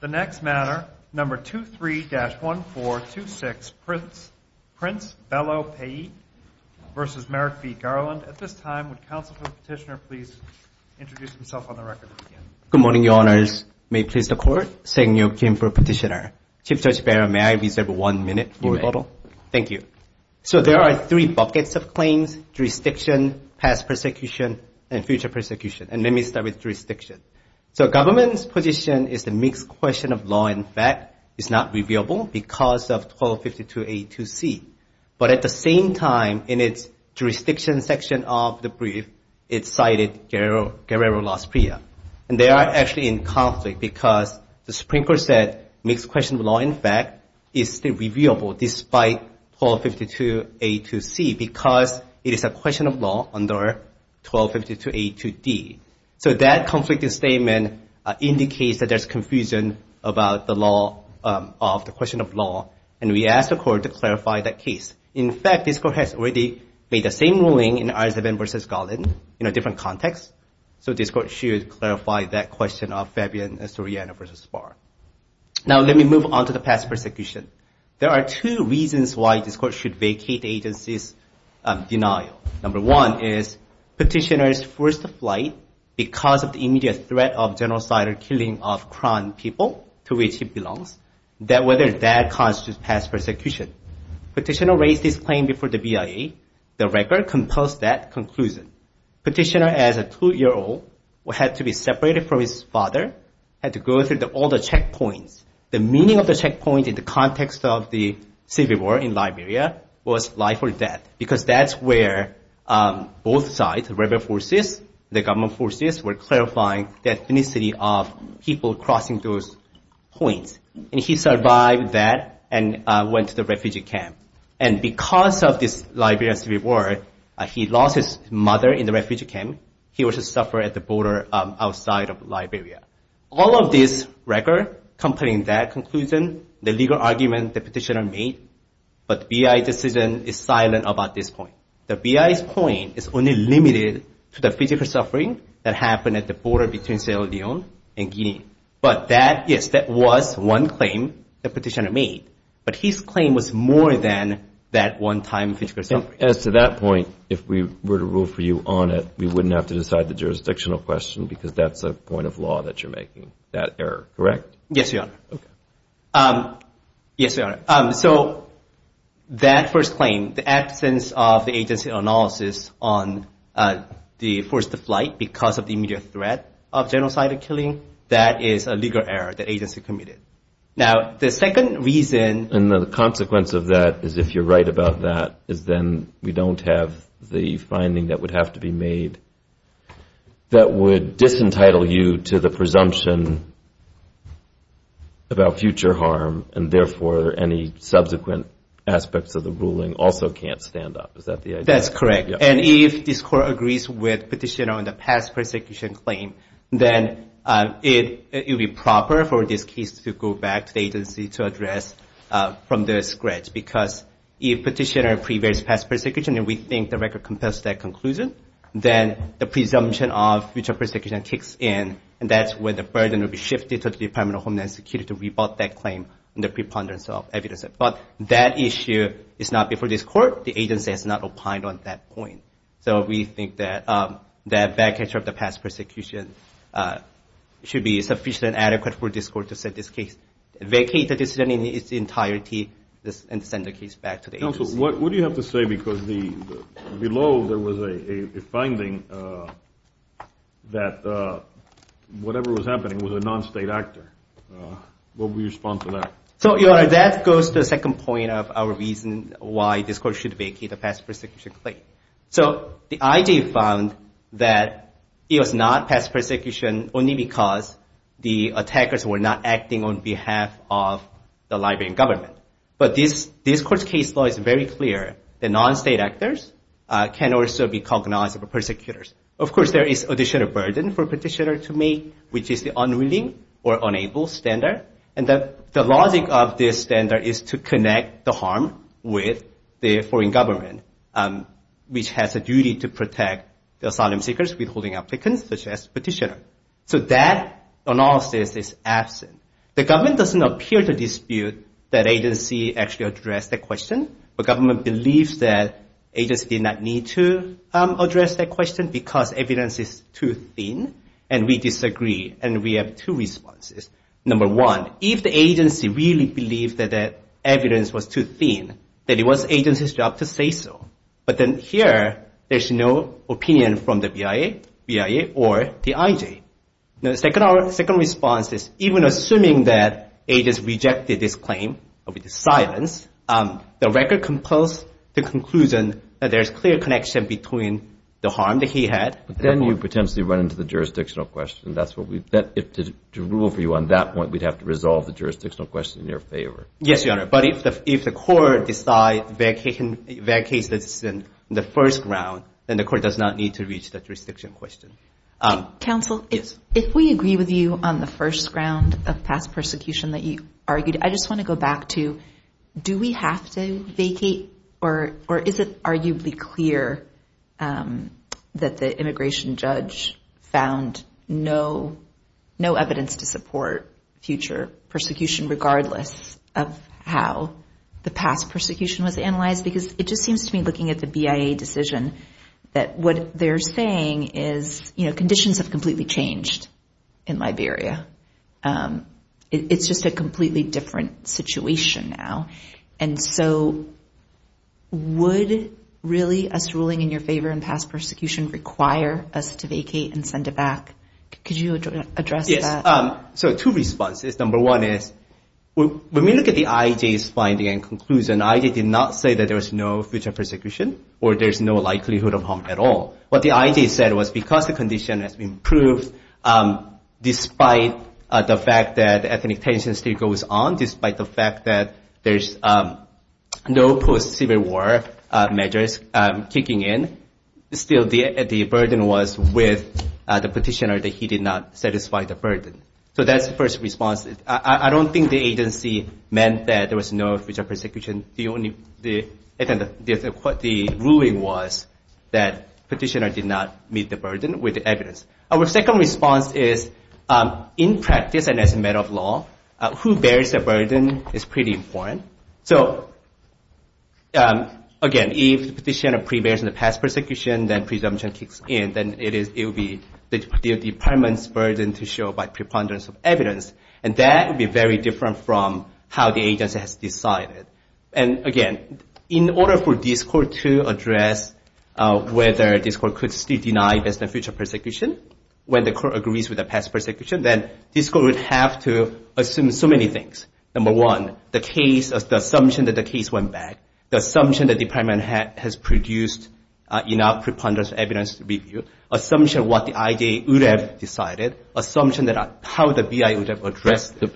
The next matter, No. 23-1426, Prince Belo Pai vs. Merrick v. Garland. At this time, would counsel for the petitioner please introduce himself on the record. Good morning, Your Honors. May it please the Court? Sang-nyeok Kim for petitioner. Chief Judge Barron, may I reserve one minute for rebuttal? You may. Thank you. So there are three buckets of claims, jurisdiction, past persecution, and future persecution. And let me start with jurisdiction. So government's position is the mixed question of law and fact is not reviewable because of 1252A-2C. But at the same time, in its jurisdiction section of the brief, it cited Guerrero-Las Prieas. And they are actually in conflict because the Supreme Court said mixed question of law and fact is still reviewable despite 1252A-2C because it is a question of law under 1252A-2D. So that conflicted statement indicates that there's confusion about the law of the question of law. And we asked the Court to clarify that case. In fact, this Court has already made the same ruling in Arzabin v. Garland in a different context. So this Court should clarify that question of Fabian Soriano v. Spahr. Now let me move on to the past persecution. There are two reasons why this Court should vacate the agency's denial. Number one is Petitioner's first flight because of the immediate threat of genocidal killing of Crown people to which he belongs, whether that constitutes past persecution. Petitioner raised this claim before the BIA. The record composed that conclusion. Petitioner, as a two-year-old, had to be separated from his father, had to go through all the checkpoints. The meaning of the checkpoint in the context of the civil war in Liberia was life or death because that's where both sides, the rebel forces, the government forces, were clarifying the ethnicity of people crossing those points. And he survived that and went to the refugee camp. And because of this Liberian civil war, he lost his mother in the refugee camp. He was to suffer at the border outside of Liberia. All of this record, completing that conclusion, the legal argument that Petitioner made, but the BIA decision is silent about this point. The BIA's point is only limited to the physical suffering that happened at the border between Sierra Leone and Guinea. But that, yes, that was one claim that Petitioner made. But his claim was more than that one time physical suffering. As to that point, if we were to rule for you on it, we wouldn't have to decide the jurisdictional question because that's a point of law that you're making, that error, correct? Yes, Your Honor. Yes, Your Honor. So that first claim, the absence of the agency analysis on the forced flight because of the immediate threat of genocidal killing, that is a legal error the agency committed. Now, the second reason— And the consequence of that is, if you're right about that, is then we don't have the finding that would have to be made that would disentitle you to the presumption about future harm and therefore any subsequent aspects of the ruling also can't stand up. Is that the idea? That's correct. And if this Court agrees with Petitioner on the past persecution claim, then it would be proper for this case to go back to the agency to address from the scratch because if Petitioner prevails past persecution and we think the record compels that conclusion, then the presumption of future persecution kicks in and that's where the burden will be shifted to the Department of Homeland Security to rebut that claim under preponderance of evidence. But that issue is not before this Court. The agency has not opined on that point. So we think that that back-catcher of the past persecution should be sufficient and adequate for this Court to set this case, vacate the decision in its entirety, and send the case back to the agency. Counsel, what do you have to say because below there was a finding that whatever was happening was a non-state actor. What would you respond to that? So, Your Honor, that goes to the second point of our reason why this Court should vacate the past persecution claim. So the IG found that it was not past persecution only because the attackers were not acting on behalf of the Liberian government. But this Court's case law is very clear. The non-state actors can also be cognizable persecutors. Of course, there is additional burden for a petitioner to make, which is the unwilling or unable standard. And the logic of this standard is to connect the harm with the foreign government, which has a duty to protect the asylum seekers with holding applicants, such as the petitioner. So that analysis is absent. The government doesn't appear to dispute that agency actually addressed that question, but government believes that agency did not need to address that question because evidence is too thin, and we disagree. And we have two responses. Number one, if the agency really believed that that evidence was too thin, then it was agency's job to say so. But then here, there's no opinion from the BIA or the IG. The second response is even assuming that agents rejected this claim with silence, the record compels the conclusion that there's clear connection between the harm that he had. But then you potentially run into the jurisdictional question. To rule for you on that point, we'd have to resolve the jurisdictional question in your favor. Yes, Your Honor. But if the Court decides the case is in the first round, then the Court does not need to reach the jurisdictional question. Counsel, if we agree with you on the first round of past persecution that you argued, I just want to go back to do we have to vacate, or is it arguably clear that the immigration judge found no evidence to support future persecution, regardless of how the past persecution was analyzed? Because it just seems to me, looking at the BIA decision, that what they're saying is conditions have completely changed in Liberia. It's just a completely different situation now. And so would really us ruling in your favor in past persecution require us to vacate and send it back? Could you address that? Yes. So two responses. Number one is when we look at the IG's finding and conclusion, IG did not say that there was no future persecution or there's no likelihood of harm at all. What the IG said was because the condition has improved, despite the fact that ethnic tension still goes on, despite the fact that there's no post-Civil War measures kicking in, still the burden was with the petitioner that he did not satisfy the burden. So that's the first response. I don't think the agency meant that there was no future persecution. The ruling was that petitioner did not meet the burden with the evidence. Our second response is in practice and as a matter of law, who bears the burden is pretty important. So again, if the petitioner prevails in the past persecution, then presumption kicks in, then it will be the department's burden to show by preponderance of evidence. And that would be very different from how the agency has decided. And again, in order for this court to address whether this court could still deny there's no future persecution, when the court agrees with the past persecution, then this court would have to assume so many things. Number one, the assumption that the case went back, the assumption that the department has produced enough preponderance of evidence to review, assumption what the IG would have decided, assumption how the BI would have addressed it,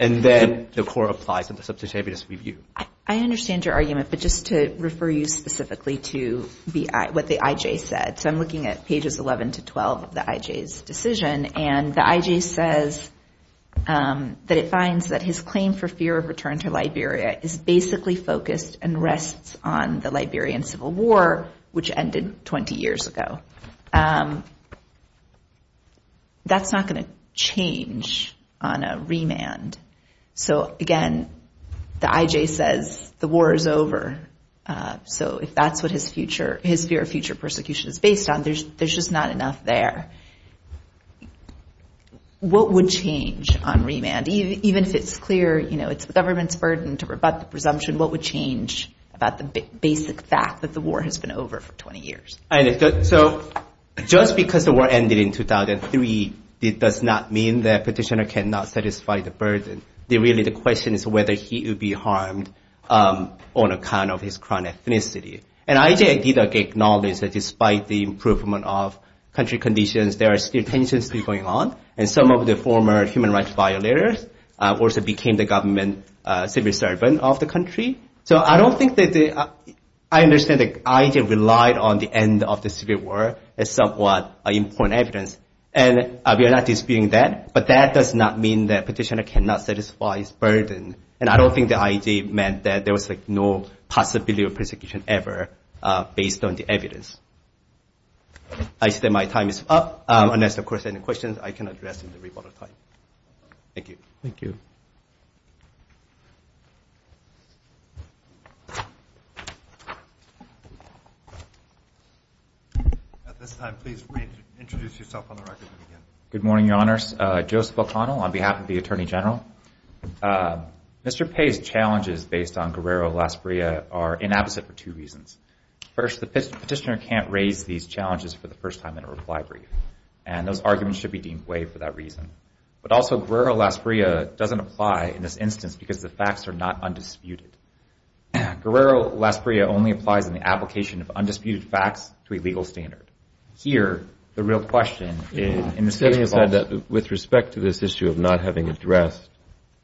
and then the court applies a substantive evidence review. I understand your argument, but just to refer you specifically to what the IJ said. So I'm looking at pages 11 to 12 of the IJ's decision, and the IJ says that it finds that his claim for fear of return to Liberia is basically focused and rests on the Liberian Civil War, which ended 20 years ago. That's not going to change on a remand. So again, the IJ says the war is over. So if that's what his fear of future persecution is based on, there's just not enough there. What would change on remand? Even if it's clear, you know, it's the government's burden to rebut the presumption, what would change about the basic fact that the war has been over for 20 years? So just because the war ended in 2003, it does not mean that petitioner cannot satisfy the burden. Really, the question is whether he would be harmed on account of his current ethnicity. And IJ did acknowledge that despite the improvement of country conditions, there are still tensions still going on, and some of the former human rights violators also became the government civil servant of the country. So I don't think that the – I understand that IJ relied on the end of the civil war as somewhat important evidence, and we are not disputing that, but that does not mean that petitioner cannot satisfy his burden. And I don't think the IJ meant that there was no possibility of persecution ever based on the evidence. I see that my time is up. Unless, of course, there are any questions, I can address in the rebuttal time. Thank you. Thank you. At this time, please introduce yourself on the record and begin. Good morning, Your Honors. Joseph O'Connell on behalf of the Attorney General. Mr. Pei's challenges based on Guerrero-Las Breas are inapposite for two reasons. First, the petitioner can't raise these challenges for the first time in a reply brief, and those arguments should be deemed way for that reason. But also, Guerrero-Las Breas doesn't apply in this instance because the facts are not undisputed. Guerrero-Las Breas only applies in the application of undisputed facts to a legal standard. Here, the real question is in the civil law. With respect to this issue of not having addressed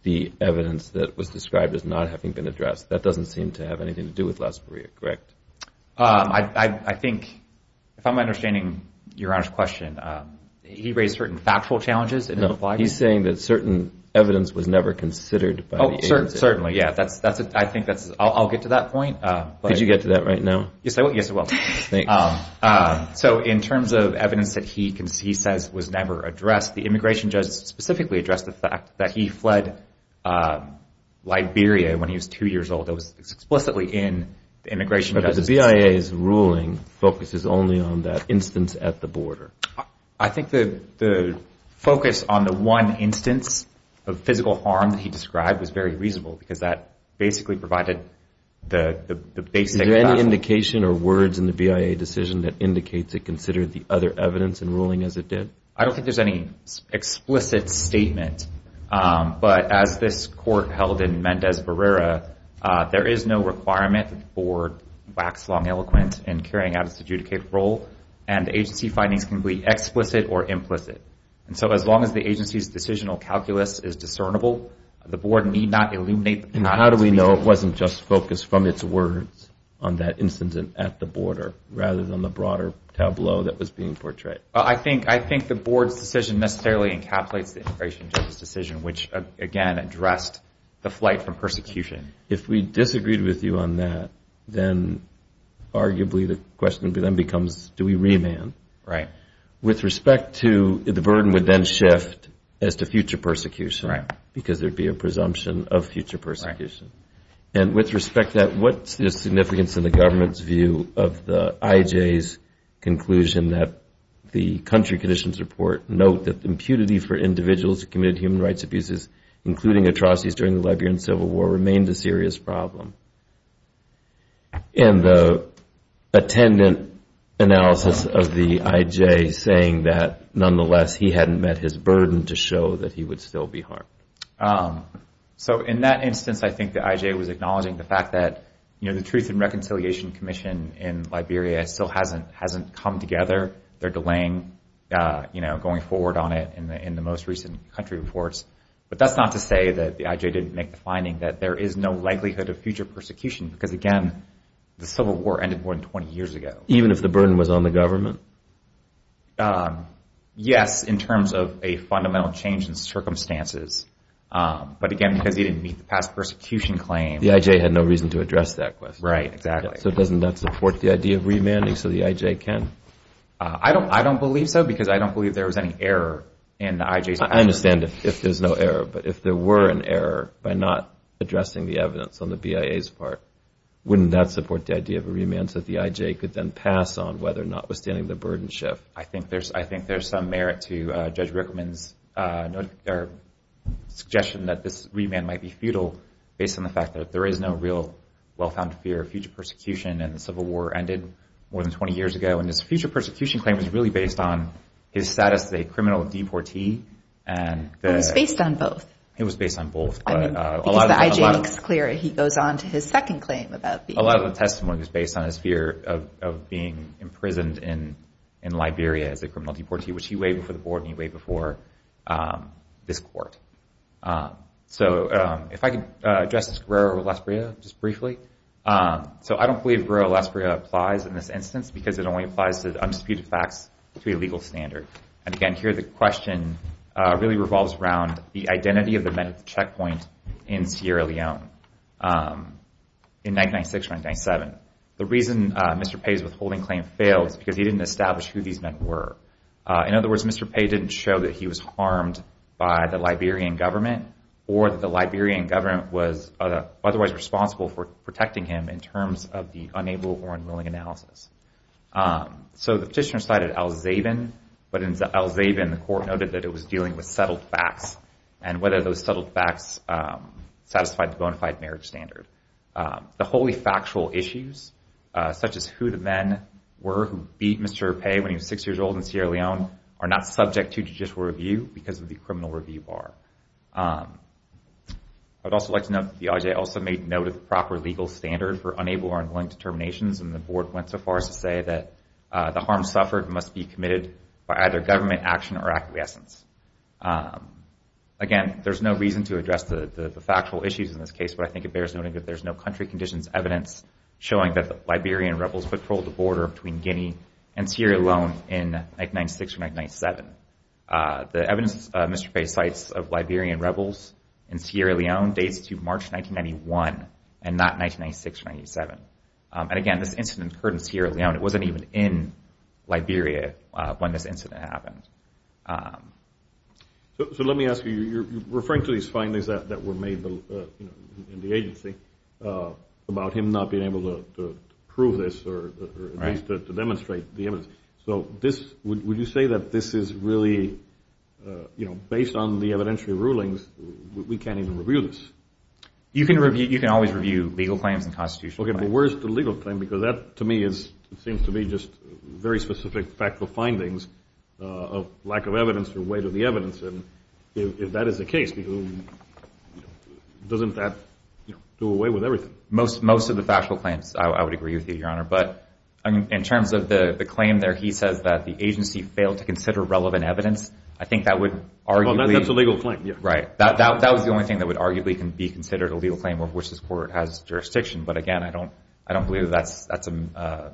the evidence that was described as not having been addressed, that doesn't seem to have anything to do with Las Breas, correct? I think, if I'm understanding Your Honor's question, he raised certain factual challenges in his reply. No, he's saying that certain evidence was never considered by the agency. Certainly, yeah. I'll get to that point. Could you get to that right now? Yes, I will. So in terms of evidence that he says was never addressed, the immigration judge specifically addressed the fact that he fled Liberia when he was two years old. But the BIA's ruling focuses only on that instance at the border. I think the focus on the one instance of physical harm that he described was very reasonable because that basically provided the basic facts. Is there any indication or words in the BIA decision that indicates it considered the other evidence in ruling as it did? I don't think there's any explicit statement. But as this court held in Mendez Barrera, there is no requirement that the board wax long eloquent in carrying out its adjudicated role, and the agency findings can be explicit or implicit. And so as long as the agency's decisional calculus is discernible, the board need not illuminate that. And how do we know it wasn't just focused from its words on that incident at the border rather than the broader tableau that was being portrayed? I think the board's decision necessarily encapsulates the immigration judge's decision, which, again, addressed the flight from persecution. If we disagreed with you on that, then arguably the question then becomes, do we remand? Right. With respect to the burden would then shift as to future persecution because there would be a presumption of future persecution. And with respect to that, what's the significance in the government's view of the IJ's conclusion that the country conditions report note that impunity for individuals who committed human rights abuses, including atrocities during the Liberian Civil War, remained a serious problem? And the attendant analysis of the IJ saying that, nonetheless, he hadn't met his burden to show that he would still be harmed? So in that instance, I think the IJ was acknowledging the fact that the Truth and Reconciliation Commission in Liberia still hasn't come together. They're delaying going forward on it in the most recent country reports. But that's not to say that the IJ didn't make the finding that there is no likelihood of future persecution because, again, the Civil War ended more than 20 years ago. Even if the burden was on the government? Yes, in terms of a fundamental change in circumstances. But, again, because he didn't meet the past persecution claim. The IJ had no reason to address that question. Right, exactly. So doesn't that support the idea of remanding so the IJ can? I don't believe so because I don't believe there was any error in the IJ's position. I understand if there's no error. But if there were an error by not addressing the evidence on the BIA's part, wouldn't that support the idea of a remand so that the IJ could then pass on whether or not, withstanding the burden shift? I think there's some merit to Judge Rickman's suggestion that this remand might be futile based on the fact that there is no real well-found fear of future persecution and the Civil War ended more than 20 years ago. And his future persecution claim was really based on his status as a criminal deportee. It was based on both. It was based on both. Because the IJ makes it clear he goes on to his second claim. A lot of the testimony was based on his fear of being imprisoned in Liberia as a criminal deportee, which he weighed before the board and he weighed before this court. So if I could address this Guerrero-Lasbrilla just briefly. So I don't believe Guerrero-Lasbrilla applies in this instance because it only applies to undisputed facts to a legal standard. And again, here the question really revolves around the identity of the men at the checkpoint in Sierra Leone in 1996-1997. The reason Mr. Pei's withholding claim failed is because he didn't establish who these men were. In other words, Mr. Pei didn't show that he was harmed by the Liberian government or that the Liberian government was otherwise responsible for protecting him in terms of the unable or unwilling analysis. So the petitioner cited al-Zaibin, but in al-Zaibin the court noted that it was dealing with settled facts and whether those settled facts satisfied the bona fide marriage standard. The wholly factual issues, such as who the men were who beat Mr. Pei when he was six years old in Sierra Leone, are not subject to judicial review because of the criminal review bar. I would also like to note that the IJA also made note of the proper legal standard for unable or unwilling determinations, and the board went so far as to say that the harm suffered must be committed by either government action or acquiescence. Again, there's no reason to address the factual issues in this case, but I think it bears noting that there's no country conditions evidence showing that the Liberian rebels patrolled the border between Guinea and Sierra Leone in 1996 or 1997. The evidence Mr. Pei cites of Liberian rebels in Sierra Leone dates to March 1991 and not 1996 or 1997. And again, this incident occurred in Sierra Leone. It wasn't even in Liberia when this incident happened. So let me ask you, you're referring to these findings that were made in the agency about him not being able to prove this or at least to demonstrate the evidence. So would you say that this is really, you know, based on the evidentiary rulings, we can't even review this? You can always review legal claims and constitutional claims. Okay, but where's the legal claim? Because that, to me, seems to be just very specific, factual findings of lack of evidence or weight of the evidence. If that is the case, doesn't that do away with everything? Most of the factual claims, I would agree with you, Your Honor. But in terms of the claim there, he says that the agency failed to consider relevant evidence. I think that would arguably – Well, that's a legal claim, yeah. Right. That was the only thing that would arguably be considered a legal claim of which this court has jurisdiction. But again, I don't believe that's – I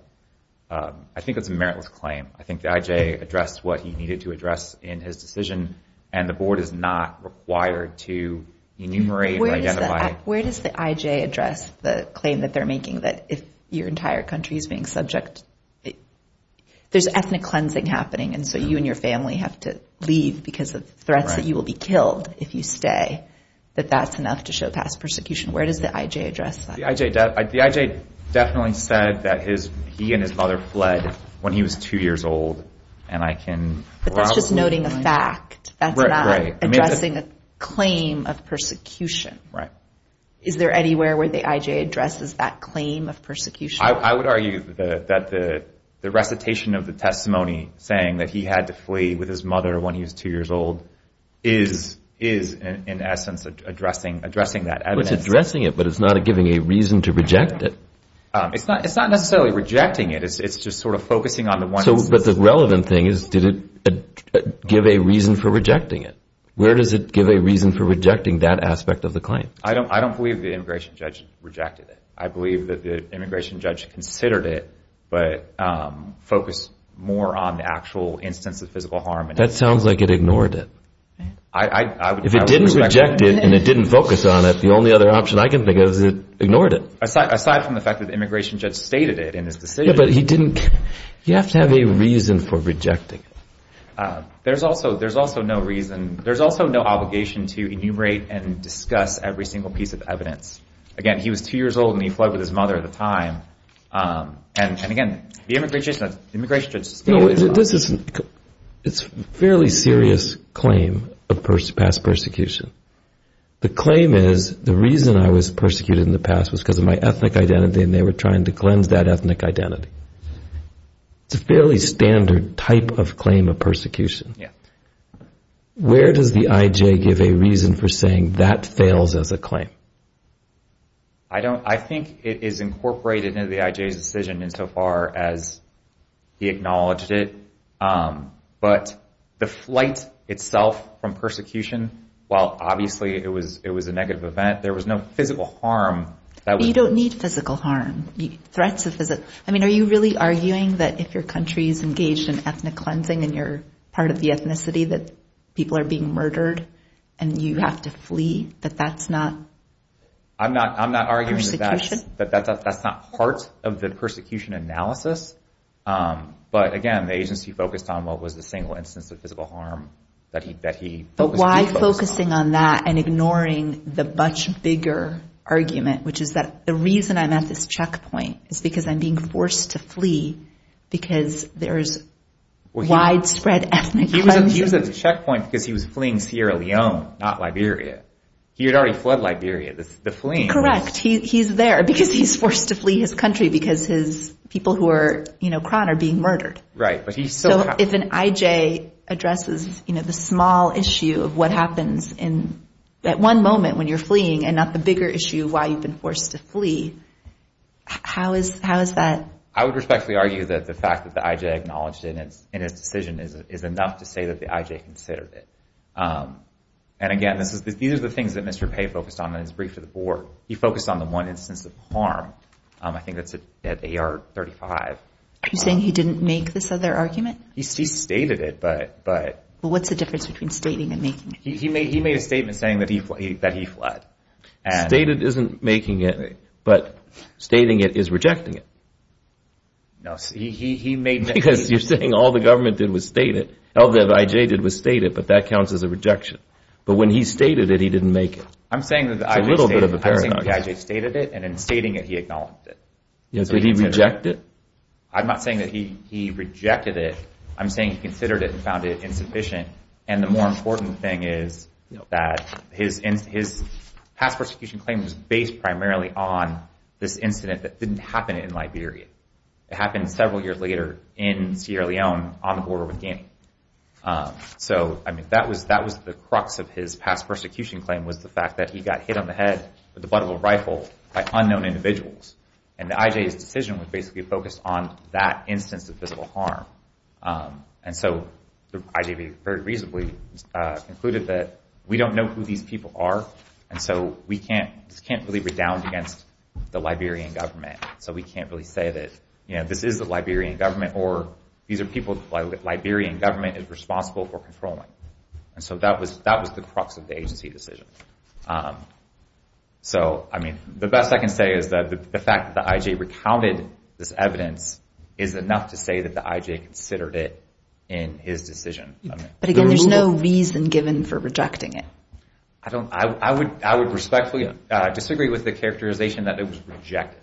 think that's a meritless claim. I think the I.J. addressed what he needed to address in his decision, and the Board is not required to enumerate or identify – Where does the I.J. address the claim that they're making, that if your entire country is being subject – there's ethnic cleansing happening, and so you and your family have to leave because of threats that you will be killed if you stay, that that's enough to show past persecution. Where does the I.J. address that? The I.J. definitely said that he and his mother fled when he was 2 years old, and I can – But that's just noting a fact. That's not addressing a claim of persecution. Right. Is there anywhere where the I.J. addresses that claim of persecution? I would argue that the recitation of the testimony saying that he had to flee with his mother when he was 2 years old is, in essence, addressing that evidence. It's addressing it, but it's not giving a reason to reject it. It's not necessarily rejecting it. It's just sort of focusing on the one instance. But the relevant thing is, did it give a reason for rejecting it? Where does it give a reason for rejecting that aspect of the claim? I don't believe the immigration judge rejected it. I believe that the immigration judge considered it, but focused more on the actual instance of physical harm. That sounds like it ignored it. If it didn't reject it and it didn't focus on it, the only other option I can think of is it ignored it. Aside from the fact that the immigration judge stated it in his decision. Yeah, but he didn't – you have to have a reason for rejecting it. There's also no reason – there's also no obligation to enumerate and discuss every single piece of evidence. Again, he was 2 years old and he fled with his mother at the time. And, again, the immigration judge – It's a fairly serious claim of past persecution. The claim is, the reason I was persecuted in the past was because of my ethnic identity, and they were trying to cleanse that ethnic identity. It's a fairly standard type of claim of persecution. Where does the IJ give a reason for saying that fails as a claim? I think it is incorporated into the IJ's decision insofar as he acknowledged it. But the flight itself from persecution, while obviously it was a negative event, there was no physical harm. You don't need physical harm. Threats of physical – I mean, are you really arguing that if your country is engaged in ethnic cleansing and you're part of the ethnicity that people are being murdered and you have to flee, that that's not persecution? I'm not arguing that that's not part of the persecution analysis. But, again, the agency focused on what was the single instance of physical harm that he focused on. But why focusing on that and ignoring the much bigger argument, which is that the reason I'm at this checkpoint is because I'm being forced to flee because there's widespread ethnic cleansing? He was at the checkpoint because he was fleeing Sierra Leone, not Liberia. He had already fled Liberia. The fleeing was – Correct. He's there because he's forced to flee his country because his people who were crowned are being murdered. Right, but he's still – So if an IJ addresses the small issue of what happens at one moment when you're fleeing and not the bigger issue of why you've been forced to flee, how is that – I would respectfully argue that the fact that the IJ acknowledged it in his decision is enough to say that the IJ considered it. And, again, these are the things that Mr. Pei focused on in his brief to the board. He focused on the one instance of harm. I think that's at AR-35. Are you saying he didn't make this other argument? He stated it, but – Well, what's the difference between stating and making it? He made a statement saying that he fled. Stated isn't making it, but stating it is rejecting it. No, he made – Because you're saying all the government did was state it. All that the IJ did was state it, but that counts as a rejection. But when he stated it, he didn't make it. It's a little bit of a paradox. I'm saying that the IJ stated it, and in stating it, he acknowledged it. Yes, but he rejected it. I'm not saying that he rejected it. I'm saying he considered it and found it insufficient. And the more important thing is that his past persecution claim was based primarily on this incident that didn't happen in Liberia. It happened several years later in Sierra Leone on the border with Guinea. So, I mean, that was the crux of his past persecution claim was the fact that he got hit on the head with the butt of a rifle by unknown individuals. And the IJ's decision was basically focused on that instance of physical harm. And so the IJ very reasonably concluded that we don't know who these people are, and so we can't really redound against the Liberian government. So we can't really say that this is the Liberian government or these are people the Liberian government is responsible for controlling. And so that was the crux of the agency decision. So, I mean, the best I can say is that the fact that the IJ recounted this evidence is enough to say that the IJ considered it in his decision. But again, there's no reason given for rejecting it. I would respectfully disagree with the characterization that it was rejected.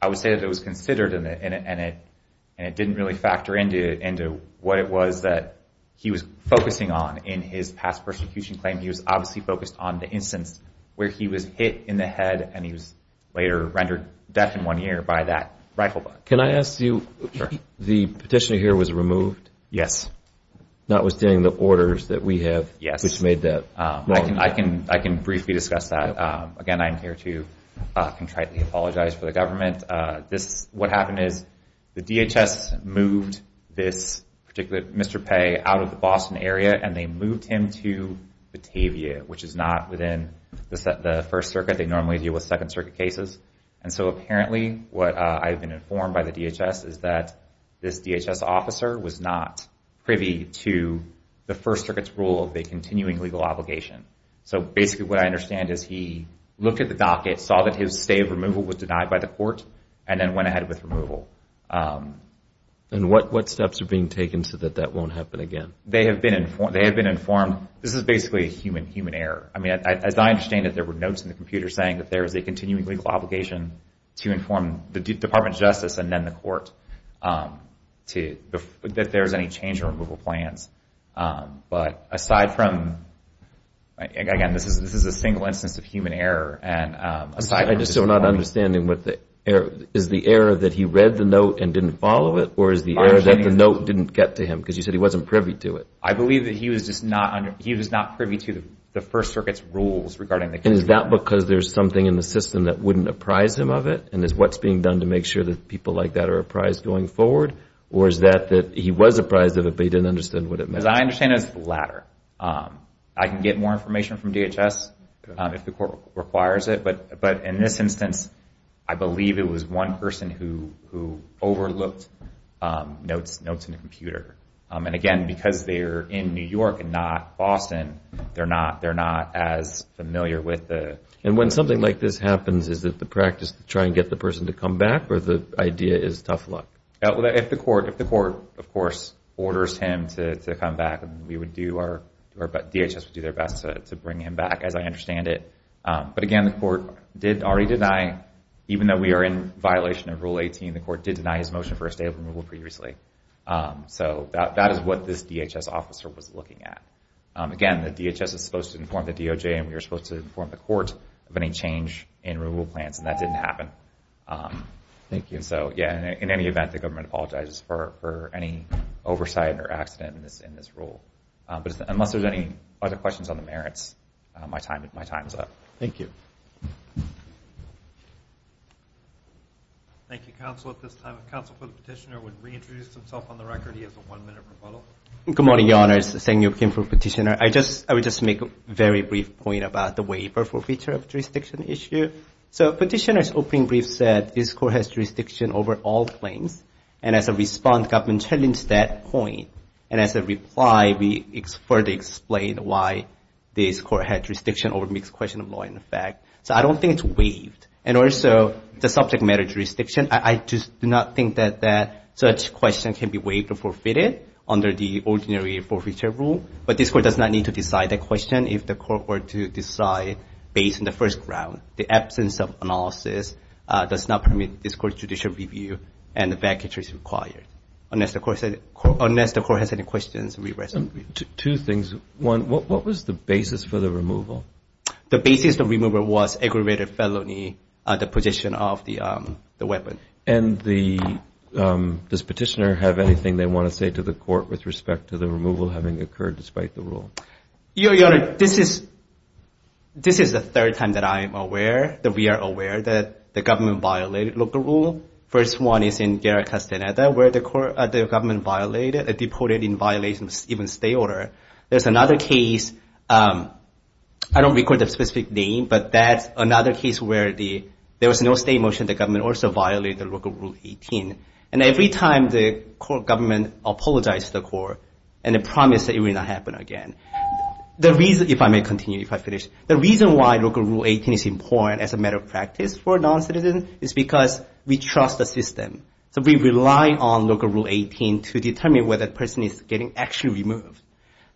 I would say that it was considered, and it didn't really factor into what it was that he was focusing on in his past persecution claim. He was obviously focused on the instance where he was hit in the head and he was later rendered deaf in one ear by that rifle butt. Can I ask you, the petitioner here was removed? Yes. Notwithstanding the orders that we have, which made that wrong. I can briefly discuss that. Again, I'm here to contritely apologize for the government. What happened is the DHS moved this particular Mr. Pei out of the Boston area and they moved him to Batavia, which is not within the First Circuit. They normally deal with Second Circuit cases. And so apparently what I've been informed by the DHS is that this DHS officer was not privy to the First Circuit's rule of the continuing legal obligation. So basically what I understand is he looked at the docket, saw that his stay of removal was denied by the court, and then went ahead with removal. And what steps are being taken so that that won't happen again? They have been informed. This is basically a human error. As I understand it, there were notes in the computer saying that there is a continuing legal obligation to inform the Department of Justice and then the court that there is any change in removal plans. But aside from, again, this is a single instance of human error. I'm just still not understanding. Is the error that he read the note and didn't follow it or is the error that the note didn't get to him because you said he wasn't privy to it? I believe that he was not privy to the First Circuit's rules regarding the case. And is that because there's something in the system that wouldn't apprise him of it? And is what's being done to make sure that people like that are apprised going forward? Or is that that he was apprised of it, but he didn't understand what it meant? As I understand it, it's the latter. I can get more information from DHS if the court requires it. But in this instance, I believe it was one person who overlooked notes in the computer. And again, because they're in New York and not Boston, they're not as familiar with the... And when something like this happens, is it the practice to try and get the person to come back or the idea is tough luck? If the court, of course, orders him to come back, DHS would do their best to bring him back, as I understand it. But again, the court did already deny, even though we are in violation of Rule 18, the court did deny his motion for a state of removal previously. So that is what this DHS officer was looking at. Again, the DHS is supposed to inform the DOJ, and we are supposed to inform the court of any change in removal plans, and that didn't happen. Thank you. And so, yeah, in any event, the government apologizes for any oversight or accident in this rule. But unless there's any other questions on the merits, my time is up. Thank you. Thank you, Counsel. At this time, if Counsel for the Petitioner would reintroduce himself on the record, he has a one-minute rebuttal. Good morning, Your Honors. Sang-Yup Kim for Petitioner. I would just make a very brief point about the waiver for feature of jurisdiction issue. So Petitioner's opening brief said, this court has jurisdiction over all claims, and as a response, government challenged that point. And as a reply, we further explained why this court had jurisdiction over mixed question of law and effect. So I don't think it's waived. And also, the subject matter jurisdiction, I just do not think that such question can be waived or forfeited under the ordinary forfeiture rule. But this court does not need to decide that question if the court were to decide based on the first round. The absence of analysis does not permit this court judicial review and vacatures required. Unless the court has any questions, we rest. Two things. One, what was the basis for the removal? The basis of removal was aggravated felony, the possession of the weapon. And does Petitioner have anything they want to say to the court with respect to the removal having occurred despite the rule? Your Honor, this is the third time that I am aware, that we are aware that the government violated local rule. First one is in Guerra Castaneda, where the government violated, deported in violation of even state order. There's another case, I don't recall the specific name, but that's another case where there was no state motion, the government also violated local rule 18. And every time the government apologized to the court and promised that it would not happen again. The reason, if I may continue, if I finish, the reason why local rule 18 is important as a matter of practice for a non-citizen is because we trust the system. So we rely on local rule 18 to determine whether that person is getting actually removed.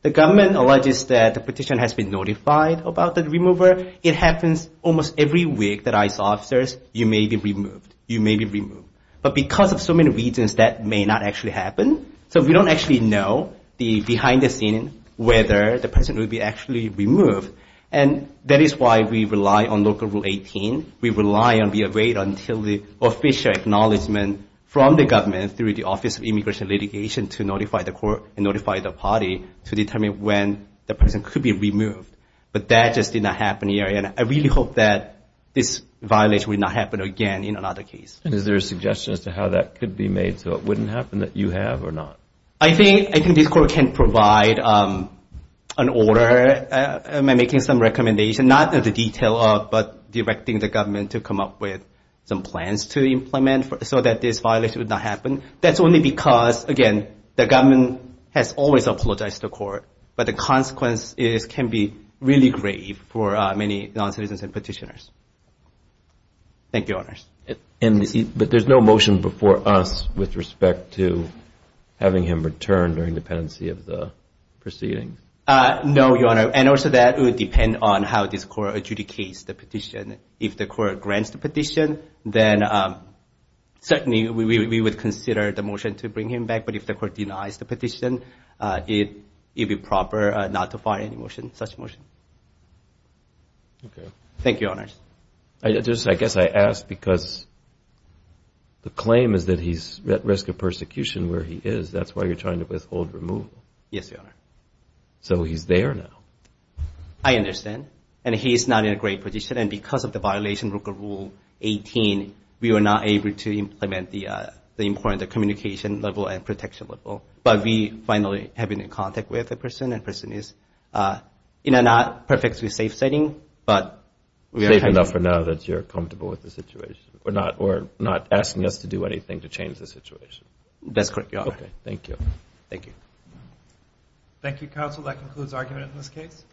The government alleges that the petition has been notified about the remover. It happens almost every week that ICE officers, you may be removed, you may be removed. But because of so many reasons, that may not actually happen. So we don't actually know the behind the scene, whether the person will be actually removed. And that is why we rely on local rule 18. We rely and we await until the official acknowledgement from the government through the Office of Immigration Litigation to notify the court and notify the party to determine when the person could be removed. But that just did not happen here. And I really hope that this violation will not happen again in another case. And is there a suggestion as to how that could be made so it wouldn't happen that you have or not? I think this court can provide an order, making some recommendation, so that this violation would not happen. That's only because, again, the government has always apologized to the court. But the consequences can be really grave for many non-citizens and petitioners. Thank you, Your Honors. But there's no motion before us with respect to having him return during the pendency of the proceedings? No, Your Honor. And also that would depend on how this court adjudicates the petition. If the court grants the petition, then certainly we would consider the motion to bring him back. But if the court denies the petition, it would be proper not to file such a motion. Thank you, Your Honors. I guess I ask because the claim is that he's at risk of persecution where he is. That's why you're trying to withhold removal. Yes, Your Honor. So he's there now. I understand. And he is not in a great position. And because of the violation of Rule 18, we were not able to implement the important communication level and protection level. But we finally have been in contact with the person, and the person is in a not perfectly safe setting. Safe enough for now that you're comfortable with the situation, or not asking us to do anything to change the situation? That's correct, Your Honor. Okay, thank you. Thank you. Thank you, counsel. That concludes argument in this case.